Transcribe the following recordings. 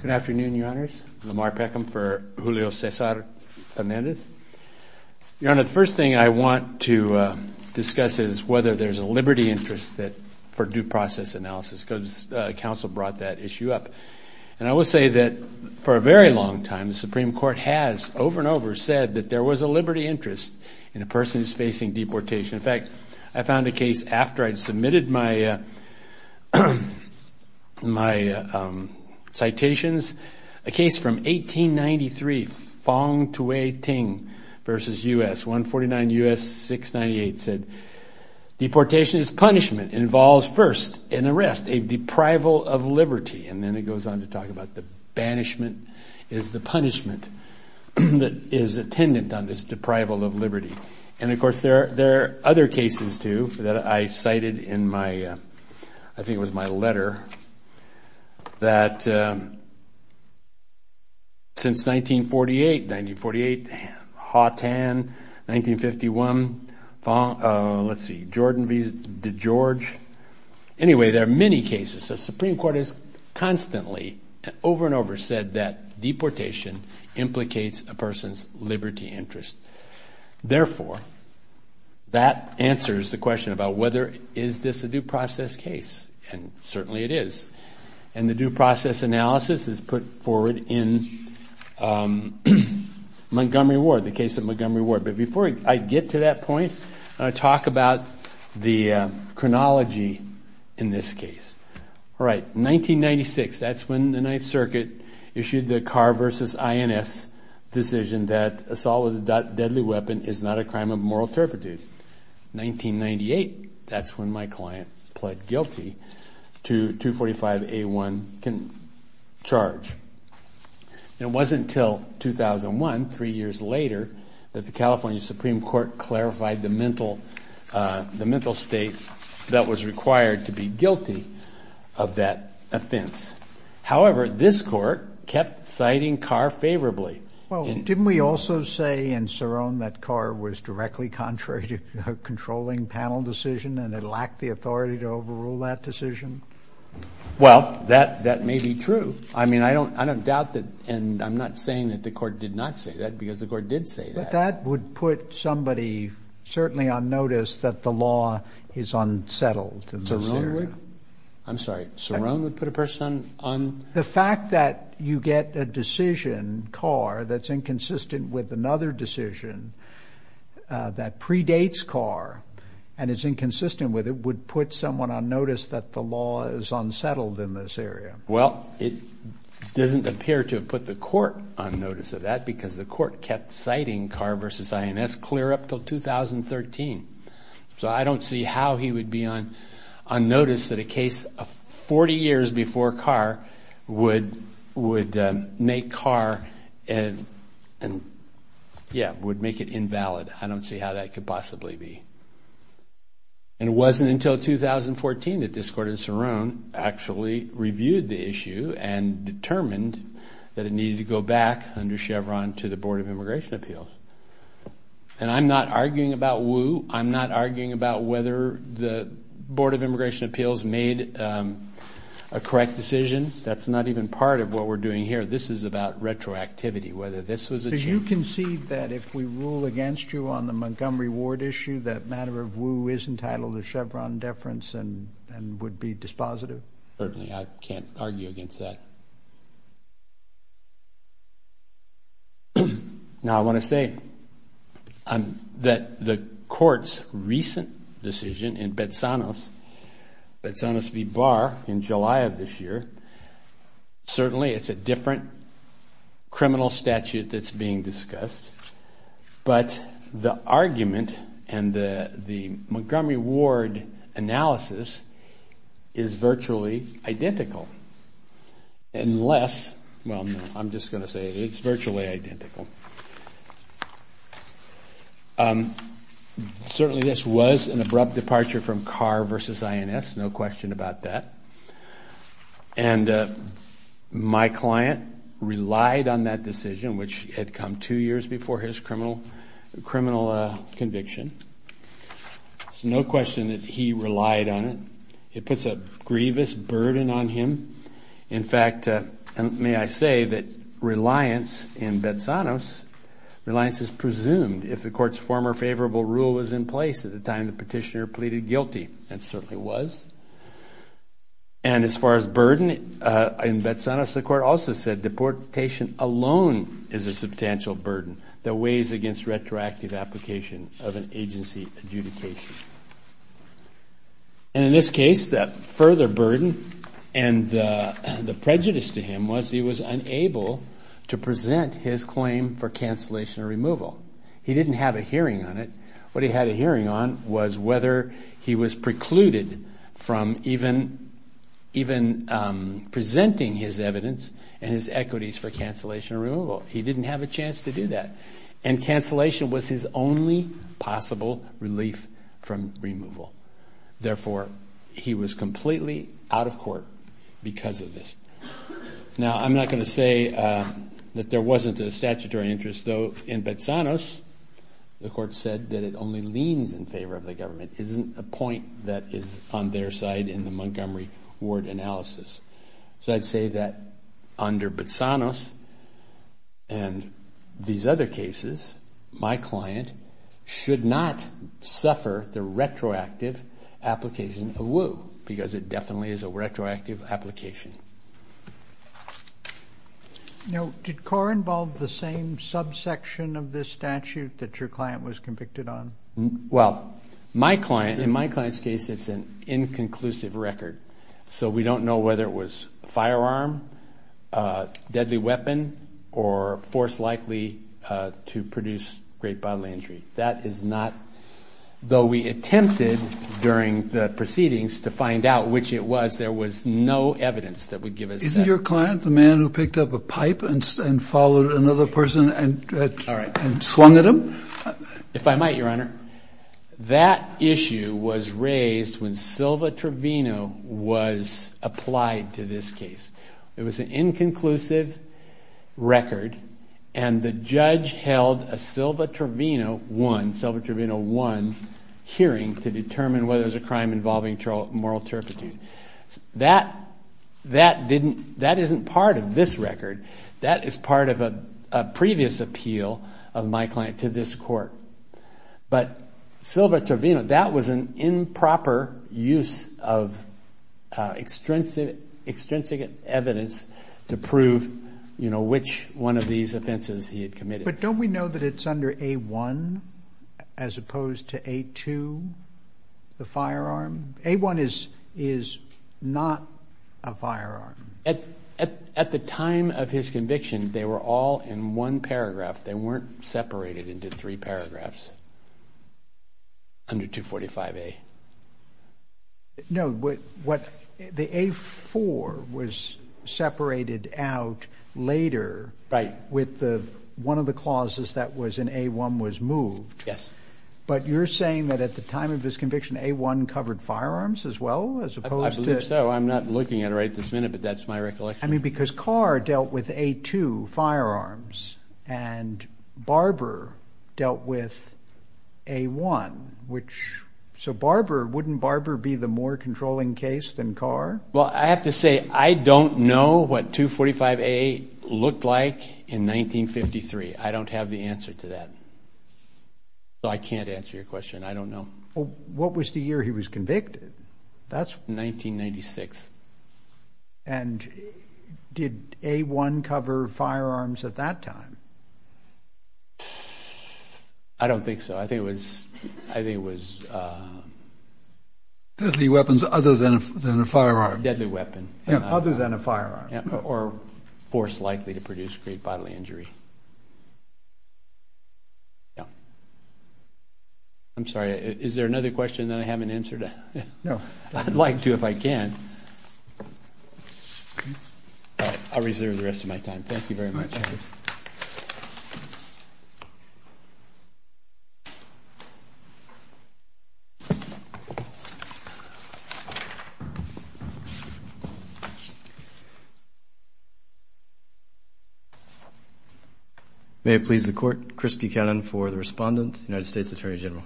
Good afternoon, Your Honors. Lamar Peckham for Julio Cesar Fernandez. Your Honor, the first thing I want to discuss is whether there is a liberty interest for due process analysis because counsel brought that issue up. And I will say that for a very long time the Supreme over said that there was a liberty interest in a person who's facing deportation. In fact, I found a case after I'd submitted my citations, a case from 1893, Fong Tui Ting versus U.S. 149 U.S. 698 said deportation is punishment. It involves first an arrest, a deprival of liberty, and then it goes on to talk about the banishment is the punishment that is attendant on this deprival of liberty. And of course, there are other cases too that I cited in my, I think it was my letter, that since 1948, 1948, Haw Tan, 1951, let's see, Jordan v. DeGeorge. Anyway, there are many cases. The Supreme over and over said that deportation implicates a person's liberty interest. Therefore, that answers the question about whether is this a due process case. And certainly it is. And the due process analysis is put forward in Montgomery Ward, the case of Montgomery Ward. But before I get to that in the Ninth Circuit issued the Carr v. INS decision that assault with a deadly weapon is not a crime of moral turpitude. 1998, that's when my client pled guilty to 245A1 charge. It wasn't until 2001, three years later, that the California Supreme Court clarified the mental state that was required to be guilty of that offense. However, this Court kept citing Carr favorably. Well, didn't we also say in Cerrone that Carr was directly contrary to a controlling panel decision and it lacked the authority to overrule that decision? Well, that may be true. I mean, I don't doubt that. And I'm not saying that the Court did not say that because the Court did say that. But that would put somebody certainly on notice that the law is unsettled in this area. I'm sorry, Cerrone would put a person on? The fact that you get a decision, Carr, that's inconsistent with another decision that predates Carr and is inconsistent with it would put someone on notice that the law is unsettled in this area. Well, it doesn't appear to have put the Court on notice of that because the Court kept citing Carr v. INS clear up until 2013. So, I don't see how he would be on notice that a case of 40 years before Carr would make Carr, and yeah, would make it invalid. I don't see how that could possibly be. And it wasn't until 2014 that this Court in Cerrone actually reviewed the issue and determined that it needed to go back under Chevron to the Board of Immigration Appeals. And I'm not arguing about Wu. I'm not arguing about whether the Board of Immigration Appeals made a correct decision. That's not even part of what we're doing here. This is about retroactivity, whether this was achieved. Do you concede that if we rule against you on the Montgomery Ward issue, that matter of Wu is entitled to Chevron deference and would be dispositive? Certainly, I can't argue against that. Now, I want to say that the Court's recent decision in Betsanos v. Barr in July of this year, certainly it's a different criminal statute that's being discussed, but the argument and the Montgomery Ward analysis is virtually identical. Unless, well, no, I'm just going to say it's virtually identical. Certainly, this was an abrupt departure from Carr v. INS, no question about that. And my client relied on that decision, which had come two years before his criminal conviction. So no question that he relied on it. It puts a grievous burden on him. In fact, may I say that reliance in Betsanos, reliance is presumed if the Court's former favorable rule was in place at the time the petitioner pleaded guilty, and certainly was. And as far as burden, in Betsanos, the Court also said deportation alone is a substantial burden that weighs against retroactive application of an agency adjudication. And in this case, that further burden and the prejudice to him was he was unable to present his claim for cancellation or removal. He didn't have a hearing on it. What he had a hearing on was whether he was precluded from even presenting his evidence and his equities for cancellation or removal. He didn't have a chance to do that. And cancellation was his only possible relief from removal. Therefore, he was completely out of court because of this. Now, I'm not going to say that there wasn't a statutory interest, though. In Betsanos, the Court said that it only leans in favor of the government. Isn't a point that is on their side in the Montgomery Ward analysis. So I'd say that under Betsanos and these other cases, my client should not suffer the retroactive application of woe because it definitely is a retroactive application. Now, did CORE involve the same subsection of this statute that your client was convicted on? Well, my client, in my client's case, it's an inconclusive record. So we don't know whether it was a firearm, a deadly weapon, or force likely to produce great bodily injury. That is not, though we attempted during the proceedings to find out which it was, there was no evidence. Isn't your client the man who picked up a pipe and followed another person and swung at him? If I might, Your Honor, that issue was raised when Silva Trevino was applied to this case. It was an inconclusive record and the judge held a Silva Trevino 1 hearing to determine whether it was a crime involving moral turpitude. That isn't part of this record. That is part of a previous appeal of my client to this court. But Silva Trevino, that was an improper use of extrinsic evidence to prove, you know, which one of these offenses he had committed. But don't we know that it's under A-1 as opposed to A-2, the firearm? A-1 is not a firearm. At the time of his conviction, they were all in one paragraph. They weren't separated into three paragraphs under 245-A. No, the A-4 was separated out later with one of the clauses that was in A-1 was moved. Yes. But you're saying that at the time of his conviction, A-1 covered firearms as well, as opposed to— I believe so. I'm not looking at it right this minute, but that's my recollection. I mean, because Carr dealt with A-2, firearms, and Barber dealt with A-1, which—so Barber, wouldn't Barber be the more controlling case than Carr? Well, I have to say, I don't know what 245-A looked like in 1953. I don't have the answer to that. So I can't answer your question. I don't know. What was the year he was convicted? That's— 1996. And did A-1 cover firearms at that time? I don't think so. I think it was— Deadly weapons other than a firearm. Deadly weapon. Yeah, other than a firearm. Or force likely to produce, create bodily injury. Yeah. I'm sorry. Is there another question that I haven't answered? No. I'd like to if I can. All right. I'll reserve the rest of my time. Thank you very much. Thank you. Thank you. May it please the Court, Chris Buchanan for the respondent, United States Attorney General.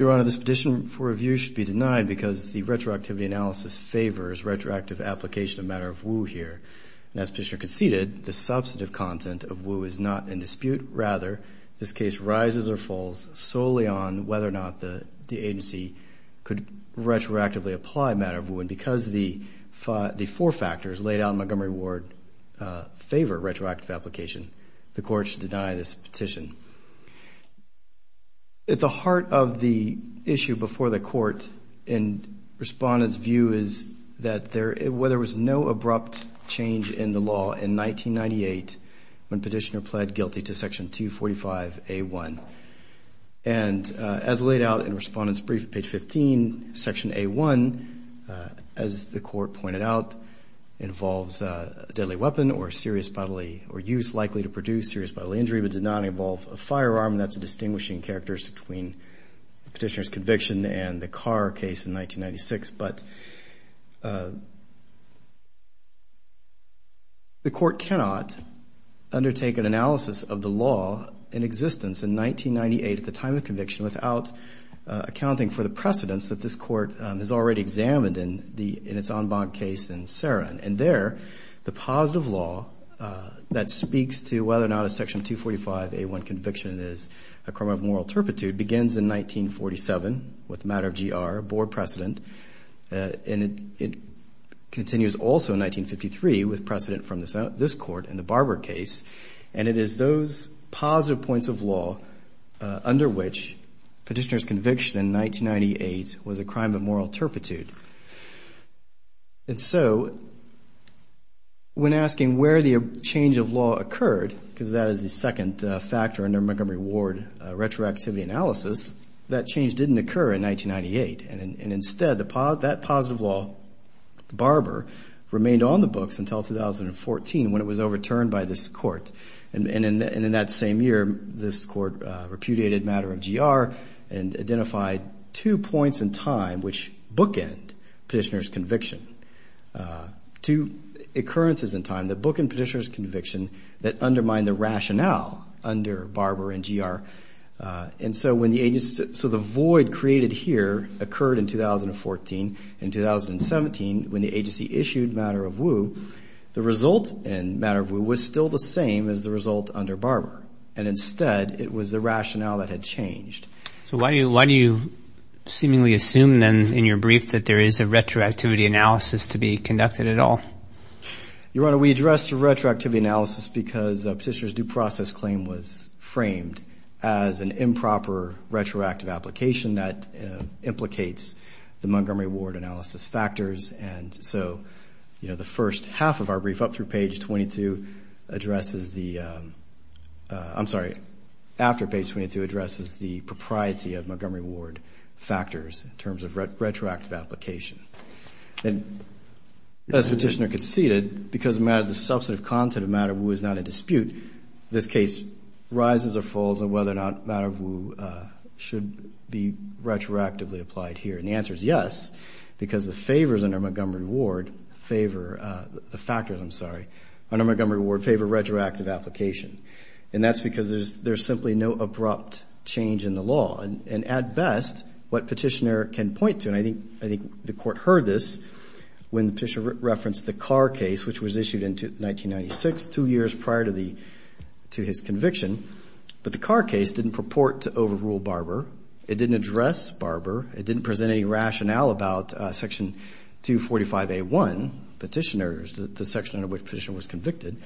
Your Honor, this petition for review should be denied because the retroactivity analysis favors retroactive application of matter of woe here. And as Petitioner conceded, the substantive content of woe is not in dispute. Rather, this case rises or falls solely on whether or not the agency could retroactively apply matter of woe. And because the four factors laid out in Montgomery Ward favor retroactive application, the Court should deny this petition. At the heart of the issue before the Court and respondent's view is that there was no guilty to Section 245A1. And as laid out in respondent's brief at page 15, Section A1, as the Court pointed out, involves a deadly weapon or serious bodily or use likely to produce serious bodily injury but did not involve a firearm. And that's a distinguishing characteristic between Petitioner's conviction and the Carr case in 1996. But the Court cannot undertake an analysis of the law in existence in 1998 at the time of conviction without accounting for the precedents that this Court has already examined in its en banc case in Saron. And there, the positive law that speaks to whether or not a Section 245A1 conviction is a crime of moral turpitude begins in 1947 with the matter of GR, a board precedent. And it continues also in 1953 with precedent from this Court in the Barber case. And it is those positive points of law under which Petitioner's conviction in 1998 was a crime of moral turpitude. And so when asking where the change of law occurred, because that is the second factor in the Montgomery Ward retroactivity analysis, that change didn't occur in 1998. And instead, that positive law, Barber, remained on the books until 2014 when it was overturned by this Court. And in that same year, this Court repudiated the matter of GR and identified two points in time which bookend Petitioner's conviction, two occurrences in time that bookend Petitioner's rationale under Barber and GR. And so when the agency, so the void created here occurred in 2014. In 2017, when the agency issued matter of Wu, the result in matter of Wu was still the same as the result under Barber. And instead, it was the rationale that had changed. So why do you seemingly assume then in your brief that there is a retroactivity analysis to be conducted at all? Your Honor, we address retroactivity analysis because Petitioner's due process claim was framed as an improper retroactive application that implicates the Montgomery Ward analysis factors. And so, you know, the first half of our brief up through page 22 addresses the, I'm sorry, after page 22 addresses the propriety of Montgomery Ward factors in terms of retroactive application. And as Petitioner conceded, because the substantive content of matter of Wu is not in dispute, this case rises or falls on whether or not matter of Wu should be retroactively applied here. And the answer is yes, because the favors under Montgomery Ward favor the factors, I'm sorry, under Montgomery Ward favor retroactive application. And that's because there's simply no abrupt change in the law. And at best, what Petitioner can point to, and I think the Court heard this when the Petitioner referenced the Carr case, which was issued in 1996, two years prior to his conviction. But the Carr case didn't purport to overrule Barber. It didn't address Barber. It didn't present any rationale about Section 245A1, Petitioner's, the section under which Petitioner was convicted.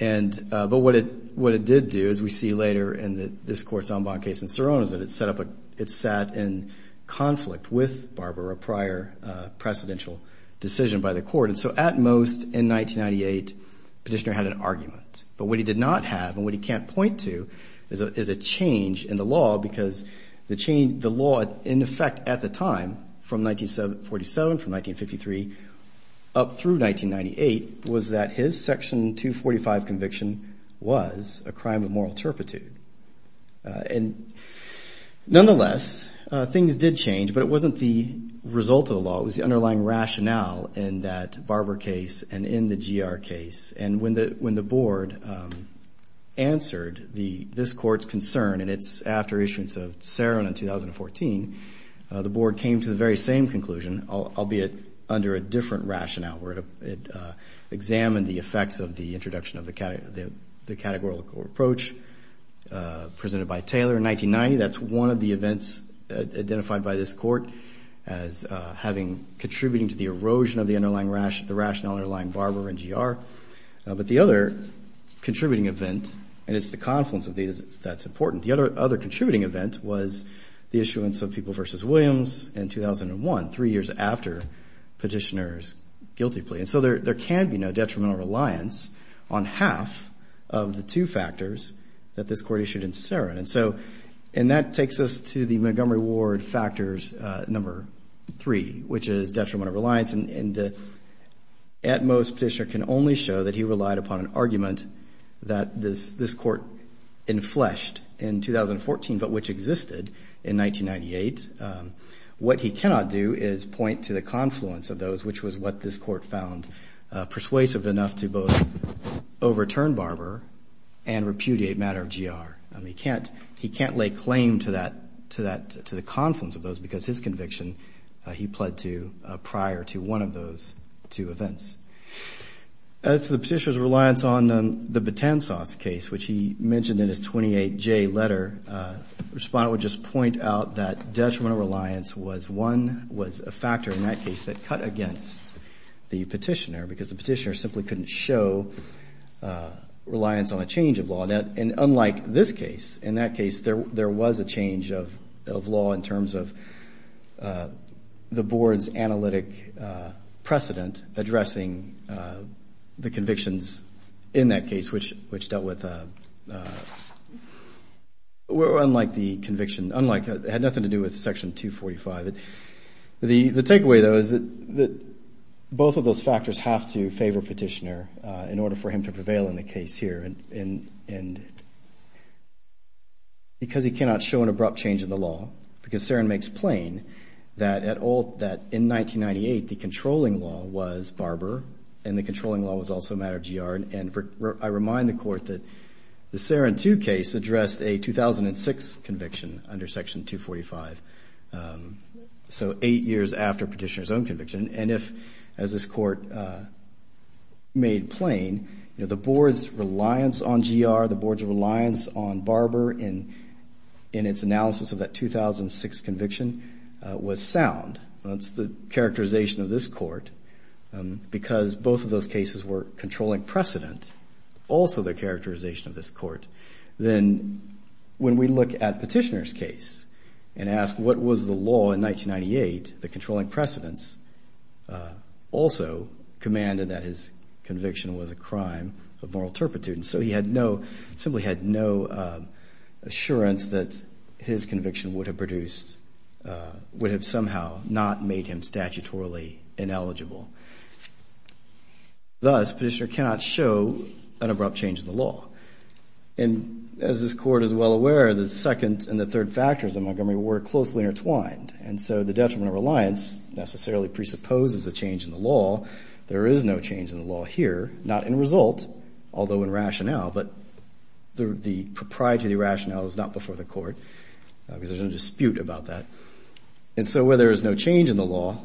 And but what it did do, as we see later in this Court's en banc case in Sirono's, it sat in conflict with Barber, a prior precedential decision by the Court. And so at most, in 1998, Petitioner had an argument. But what he did not have, and what he can't point to, is a change in the law. Because the law, in effect, at the time, from 1947, from 1953, up through 1998, was that his Section 245 conviction was a crime of moral turpitude. And nonetheless, things did change. But it wasn't the result of the law. It was the underlying rationale in that Barber case and in the GR case. And when the Board answered this Court's concern, and it's after issuance of Sirono in 2014, the Board came to the very same conclusion, albeit under a different rationale, where it examined the effects of the introduction of the categorical approach. Presented by Taylor in 1990, that's one of the events identified by this Court as having contributing to the erosion of the rationale underlying Barber and GR. But the other contributing event, and it's the confluence of these that's important, the other contributing event was the issuance of People v. Williams in 2001, three years after Petitioner's guilty plea. So there can be no detrimental reliance on half of the two factors that this Court issued in Sirono. And that takes us to the Montgomery Ward factors number three, which is detrimental reliance. And the at-most Petitioner can only show that he relied upon an argument that this Court enfleshed in 2014, but which existed in 1998. What he cannot do is point to the confluence of those, which was what this Court found persuasive enough to both overturn Barber and repudiate matter of GR. He can't lay claim to that, to the confluence of those, because his conviction, he pled to prior to one of those two events. As to the Petitioner's reliance on the Batanzas case, which he mentioned in his 28J letter, Respondent would just point out that detrimental reliance was one, was a factor in that case that cut against the Petitioner, because the Petitioner simply couldn't show reliance on a change of law. And unlike this case, in that case, there was a change of law in terms of the Board's analytic precedent addressing the convictions in that case, which dealt with a, well, unlike the conviction, unlike, had nothing to do with Section 245. The takeaway, though, is that both of those factors have to favor Petitioner in order for him to prevail in the case here, and because he cannot show an abrupt change in the law, because Sarin makes plain that at all, that in 1998, the controlling law was Barber, and the controlling law was also matter of GR. And I remind the Court that the Sarin 2 case addressed a 2006 conviction under Section 245, so eight years after Petitioner's own conviction. And if, as this Court made plain, you know, the Board's reliance on GR, the Board's reliance on Barber in its analysis of that 2006 conviction was sound. That's the characterization of this Court, because both of those cases were controlling precedent, also the characterization of this Court. Then when we look at Petitioner's case and ask what was the law in 1998, the controlling precedents also commanded that his conviction was a crime of moral turpitude. And so he had no, simply had no assurance that his conviction would have produced, would have somehow not made him statutorily ineligible. Thus, Petitioner cannot show an abrupt change in the law. And as this Court is well aware, the second and the third factors of Montgomery were closely intertwined, and so the detriment of reliance necessarily presupposes a change in the law. There is no change in the law here, not in result, although in rationale, but the proprietary rationale is not before the Court, because there's no dispute about that. And so where there is no change in the law,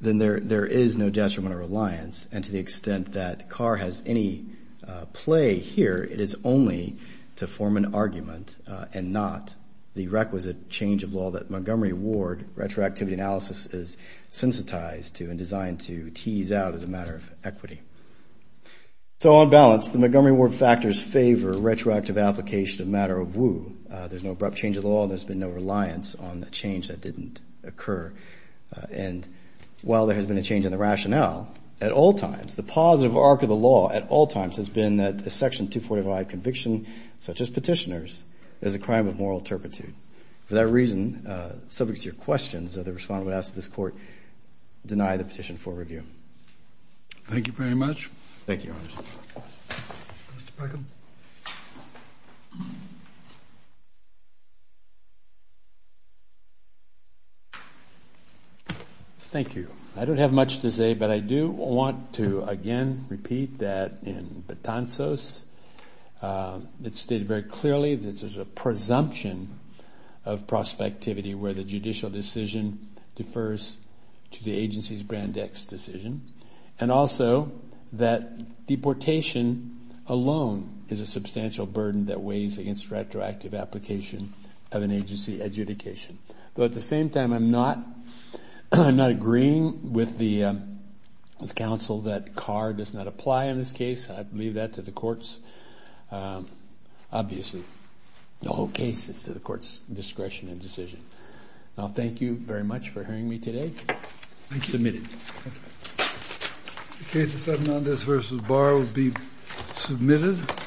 then there is no detriment of reliance. And to the extent that Carr has any play here, it is only to form an argument and not the requisite change of law that Montgomery Ward retroactivity analysis is sensitized to and designed to tease out as a matter of equity. So on balance, the Montgomery Ward factors favor retroactive application of matter of woe. There's no abrupt change of the law, and there's been no reliance on the change that didn't occur. And while there has been a change in the rationale, at all times, the positive arc of the law at all times has been that the Section 245 conviction, such as Petitioner's, is a crime of moral turpitude. For that reason, subject to your questions, the Respondent would ask that this Court deny the petition for review. Thank you very much. Thank you, Your Honor. Thank you. I don't have much to say, but I do want to, again, repeat that in Betanzos, it's stated very clearly that there's a presumption of prospectivity where the judicial decision defers to the agency's brand X decision, and also that deportation alone is a substantial burden that weighs against retroactive application of an agency adjudication. But at the same time, I'm not agreeing with the counsel that Carr does not apply in this case. I leave that to the courts. Obviously, the whole case is to the court's discretion and decision. Now, thank you very much for hearing me today. Thank you. Submitted. The case of Fernandez v. Barr will be submitted.